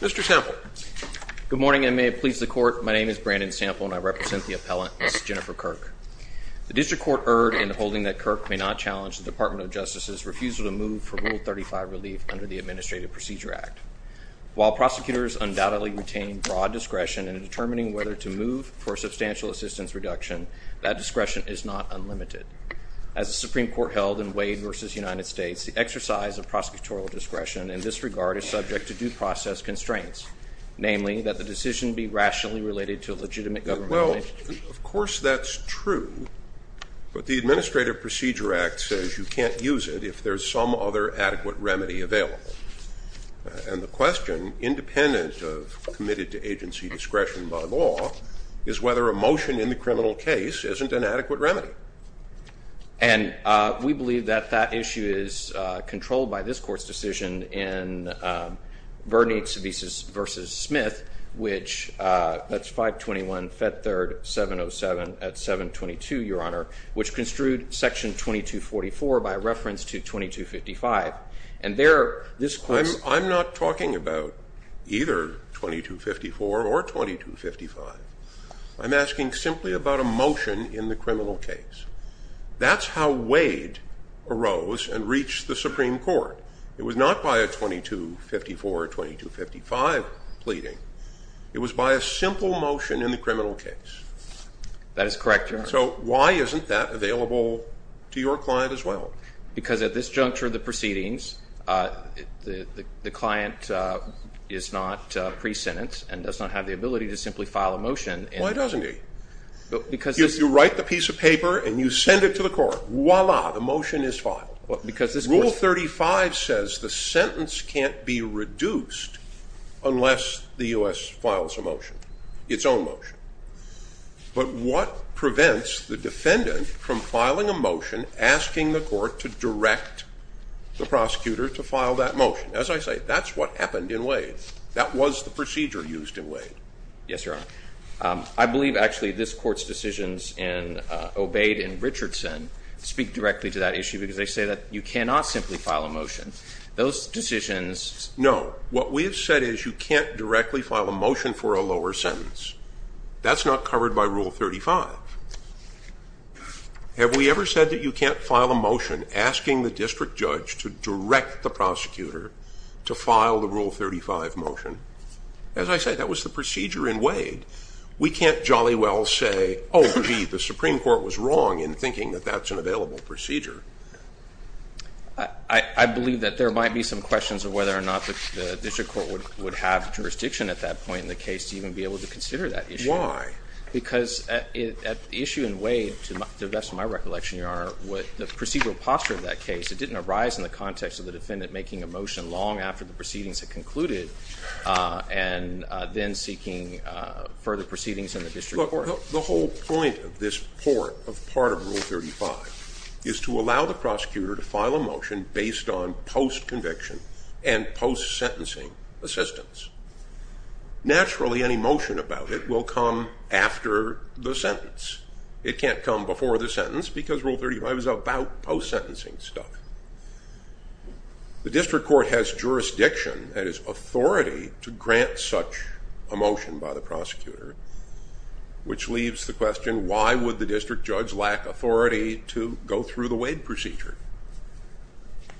Mr. Sample. Good morning and may it please the court, my name is Brandon Sample and I represent the appellant, Ms. Jennifer Kirk. The district court erred in holding that Kirk may not challenge the Department of Justice's refusal to move for Rule 35 relief under the Administrative Procedure Act. While prosecutors undoubtedly retain broad discretion in determining whether to move for substantial assistance reduction, that discretion is not unlimited. As the Supreme Court held in Wade v. United States, the exercise of prosecutorial discretion in this regard is subject to due process constraints, namely, that the decision be rationally related to a legitimate government... Well, of course that's true, but the Administrative Procedure Act says you can't use it if there's some other adequate remedy available. And the question, independent of committed to agency discretion by law, is whether a motion in the criminal case isn't an adequate remedy. And we believe that that issue is controlled by this Court's decision in Bernice v. Smith, which, that's 521 Fed Third 707 at 722, Your Honor, which construed Section 2244 by reference to 2255. And there, this Court's... I'm not talking about either 2254 or 2255. I'm asking simply about a motion in the criminal case. That's how Wade arose and reached the Supreme Court. It was not by a 2254 or 2255 pleading. It was by a simple motion in the criminal case. That is correct, Your Honor. So why isn't that available to your client as well? Because at this juncture of the proceedings, the client is not pre-sentence and does not have the ability to simply file a motion. Why doesn't he? Because... You write the piece of paper and you send it to the court. Voila, the motion is filed. Because this Court... Rule 35 says the sentence can't be reduced unless the U.S. files a motion, its own motion. But what prevents the defendant from filing a motion? As I say, that's what happened in Wade. That was the procedure used in Wade. Yes, Your Honor. I believe, actually, this Court's decisions in Obeyed and Richardson speak directly to that issue because they say that you cannot simply file a motion. Those decisions... No. What we have said is you can't directly file a motion for a lower sentence. That's not covered by Rule 35. Have we ever said that you can't file a motion asking the district judge to direct the prosecutor to file the Rule 35 motion? As I say, that was the procedure in Wade. We can't jolly well say, oh, indeed, the Supreme Court was wrong in thinking that that's an available procedure. I believe that there might be some questions of whether or not the district court would have jurisdiction at that point in the case to even be able to consider that issue. Why? Because at the issue in Wade, to the best of my recollection, Your Honor, the procedural posture of that case, it didn't arise in the context of the defendant making a motion long after the proceedings had concluded and then seeking further proceedings in the district court. Look, the whole point of this part of Rule 35 is to allow the prosecutor to file a motion based on post-conviction and post-sentencing assistance. Naturally, any motion about it will come after the sentence. It can't come before the sentence because Rule 35 is about post-sentencing stuff. The district court has jurisdiction, that is, authority to grant such a motion by the prosecutor, which leaves the question, why would the district judge lack authority to go through the Wade procedure?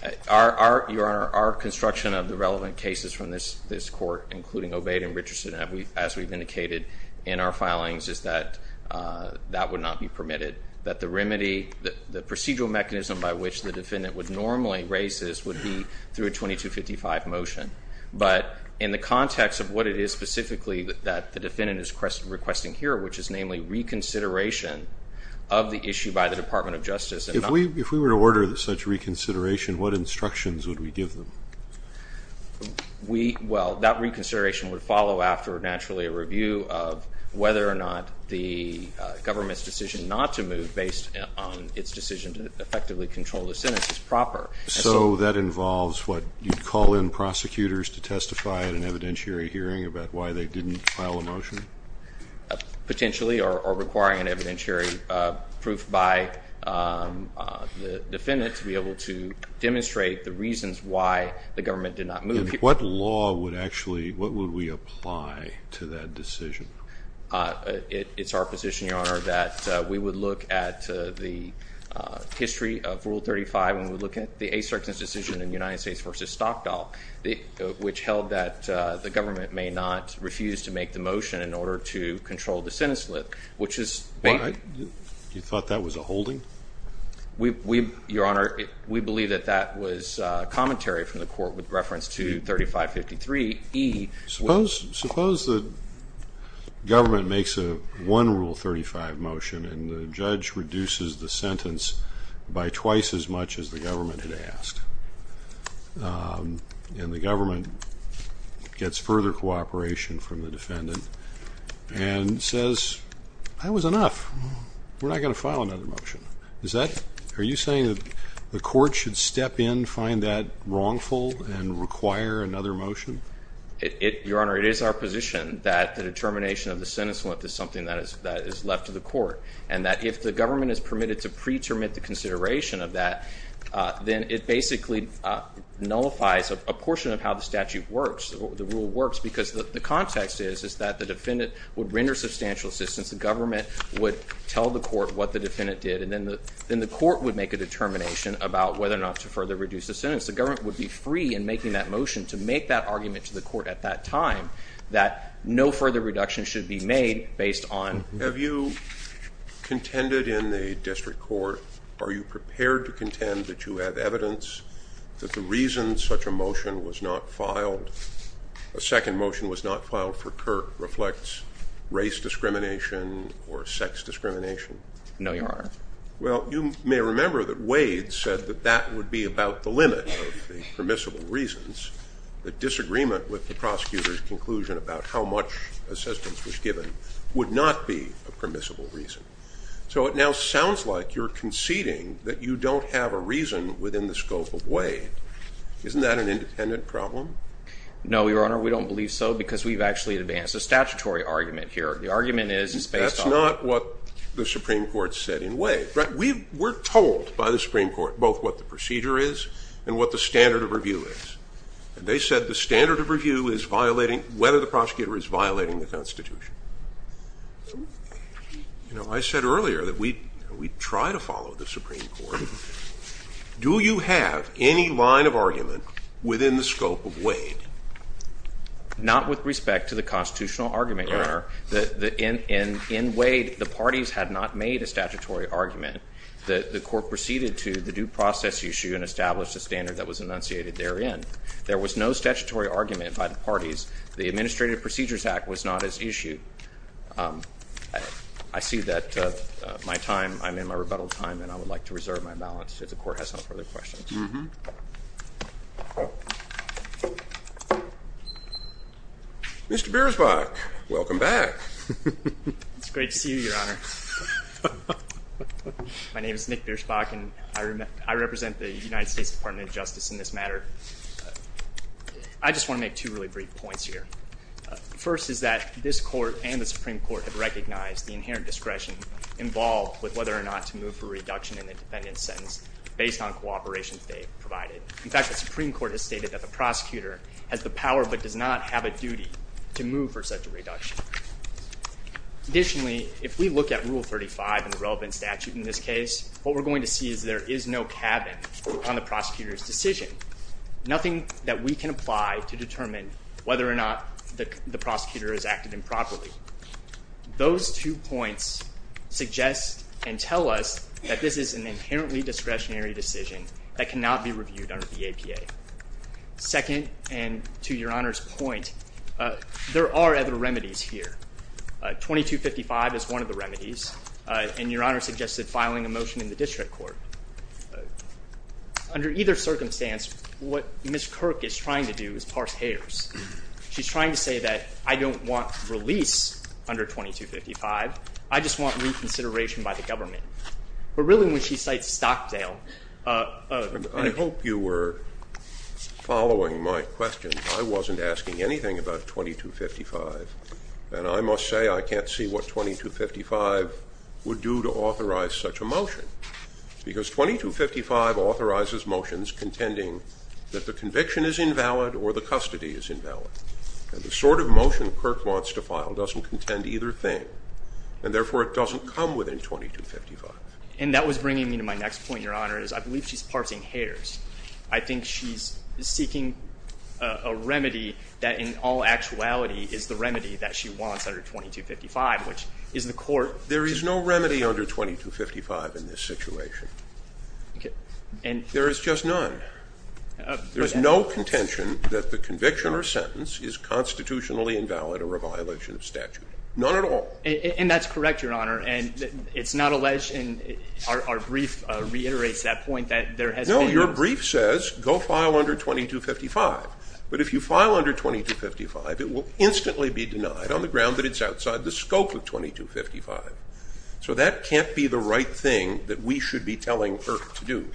Your Honor, our construction of the relevant cases from this court, including Obeyed and Richardson, as we've indicated in our filings, is that that would not be permitted. That the remedy, the procedural mechanism by which the defendant would normally raise this would be through a 2255 motion. But in the context of what it is specifically that the defendant is requesting here, which is namely reconsideration of the issue by the Department of Justice. If we were to order such reconsideration, what instructions would we give them? Well, that reconsideration would follow after, naturally, a review of whether or not the government's decision not to move based on its decision to effectively control the sentence is proper. So that involves what, you'd call in prosecutors to testify at an evidentiary hearing about why they didn't file a motion? Potentially, or requiring an evidentiary proof by the defendant to be able to demonstrate the reasons why the government did not move. And what law would actually, what would we apply to that decision? It's our position, Your Honor, that we would look at the history of Rule 35, and we would look at the Asterix's decision in United States v. Stockdall, which held that the government may not refuse to make the motion in the case. You thought that was a holding? We, Your Honor, we believe that that was commentary from the court with reference to 3553E. Suppose the government makes a one Rule 35 motion, and the judge reduces the sentence by twice as much as the government had asked. And the government gets further cooperation from the defendant, and says, that was enough. We're not going to file another motion. Is that, are you saying that the court should step in, find that wrongful, and require another motion? It, Your Honor, it is our position that the determination of the sentence length is something that is left to the court, and that if the government is permitted to pre-terminate the consideration of that, then it basically nullifies a portion of how the statute works, the rule works. Because the context is, is that the defendant would render substantial assistance, the government would tell the court what the defendant did, and then the, then the court would make a determination about whether or not to further reduce the sentence. The government would be free in making that motion to make that argument to the court at that time, that no further reduction should be made based on... Have you contended in the district court, are you prepared to contend that you have evidence that the reason such a motion was not filed, a second motion was not filed for Kirk reflects race discrimination or sex discrimination? No, Your Honor. Well, you may remember that Wade said that that would be about the limit of the permissible reasons. The disagreement with the prosecutor's conclusion about how much assistance was given would not be a permissible reason. So it now sounds like you're conceding that you don't have a reason within the scope of Wade. Isn't that an independent problem? No, Your Honor, we don't believe so because we've actually advanced a statutory argument here. The argument is... That's not what the Supreme Court said in Wade. We were told by the Supreme Court both what the procedure is and what the standard of review is. And they said the standard of review is violating, whether the prosecutor is violating the Constitution. You know, we try to follow the Supreme Court. Do you have any line of argument within the scope of Wade? Not with respect to the constitutional argument, Your Honor. In Wade, the parties had not made a statutory argument. The court proceeded to the due process issue and established a standard that was enunciated therein. There was no statutory argument by the parties. The Administrative Procedures Act was not as issued. I see that my time, I'm in my rebuttal time, and I would like to reserve my balance if the court has no further questions. Mr. Biersbach, welcome back. It's great to see you, Your Honor. My name is Nick Biersbach, and I represent the United States Department of Justice in this matter. I just want to make two really brief points here. First is that this Court and the Supreme Court have recognized the inherent discretion involved with whether or not to move for a reduction in the defendant's sentence based on cooperation they provided. In fact, the Supreme Court has stated that the prosecutor has the power but does not have a duty to move for such a reduction. Additionally, if we look at Rule 35 and the relevant statute in this case, what we're going to see is there is no cabin on the prosecutor's decision, nothing that we can apply to determine whether or not the prosecutor has acted improperly. Those two points suggest and tell us that this is an inherently discretionary decision that cannot be reviewed under the APA. Second, and to Your Honor's point, there are other remedies here. 2255 is one of the remedies, and Your Honor suggested filing a motion in the District Court. Under either circumstance, what Ms. Kirk is trying to do is parse hairs. She's trying to say that I don't want release under 2255, I just want reconsideration by the government. But really when she cites Stockdale... I hope you were following my question. I wasn't asking anything about 2255, and I must say I can't see what 2255 would do to authorize such a motion. Because 2255 authorizes motions contending that the conviction is invalid or the custody is invalid. And the sort of motion Kirk wants to file doesn't contend either thing, and therefore it doesn't come within 2255. And that was bringing me to my next point, Your Honor, is I believe she's parsing hairs. I think she's seeking a remedy that in all actuality is the remedy that she wants under 2255, which is the court... There is no remedy under 2255 in this situation. There is just none. There is no contention that the conviction or sentence is constitutionally invalid or a violation of statute. None at all. And that's correct, Your Honor, and it's not alleged, and our brief reiterates that point, that there has been... No, your brief says go file under 2255. But if you file under 2255, it will instantly be denied on the ground that it's outside the scope of 2255. So that can't be the right thing that we should be telling Kirk to do.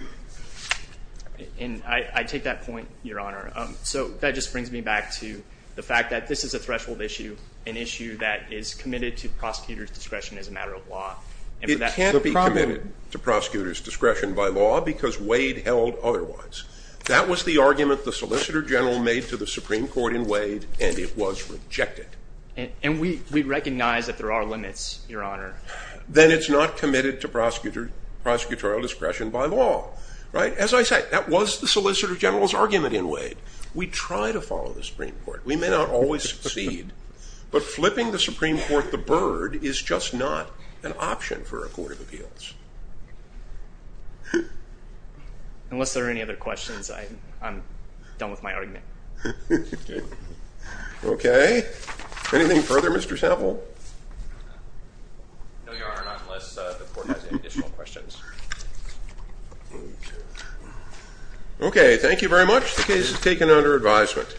And I take that point, Your Honor. So that just brings me back to the fact that this is a threshold issue, an issue that is committed to prosecutors' discretion as a matter of law. It can't be committed to prosecutors' discretion by law because Wade held otherwise. That was the argument the solicitor general made to the Supreme Court in Wade, and it was rejected. And we recognize that there are limits, Your Honor. Then it's not committed to prosecutorial discretion by law, right? As I said, that was the solicitor general's argument in Wade. We try to follow the Supreme Court. We may not always succeed, but flipping the Supreme Court the bird is just not an option for a court of appeals. Unless there are any other questions, I'm done with my argument. Okay. Anything further, Mr. Sample? No, Your Honor, not unless the court has any additional questions. Okay. Thank you very much. The case is taken under advisement.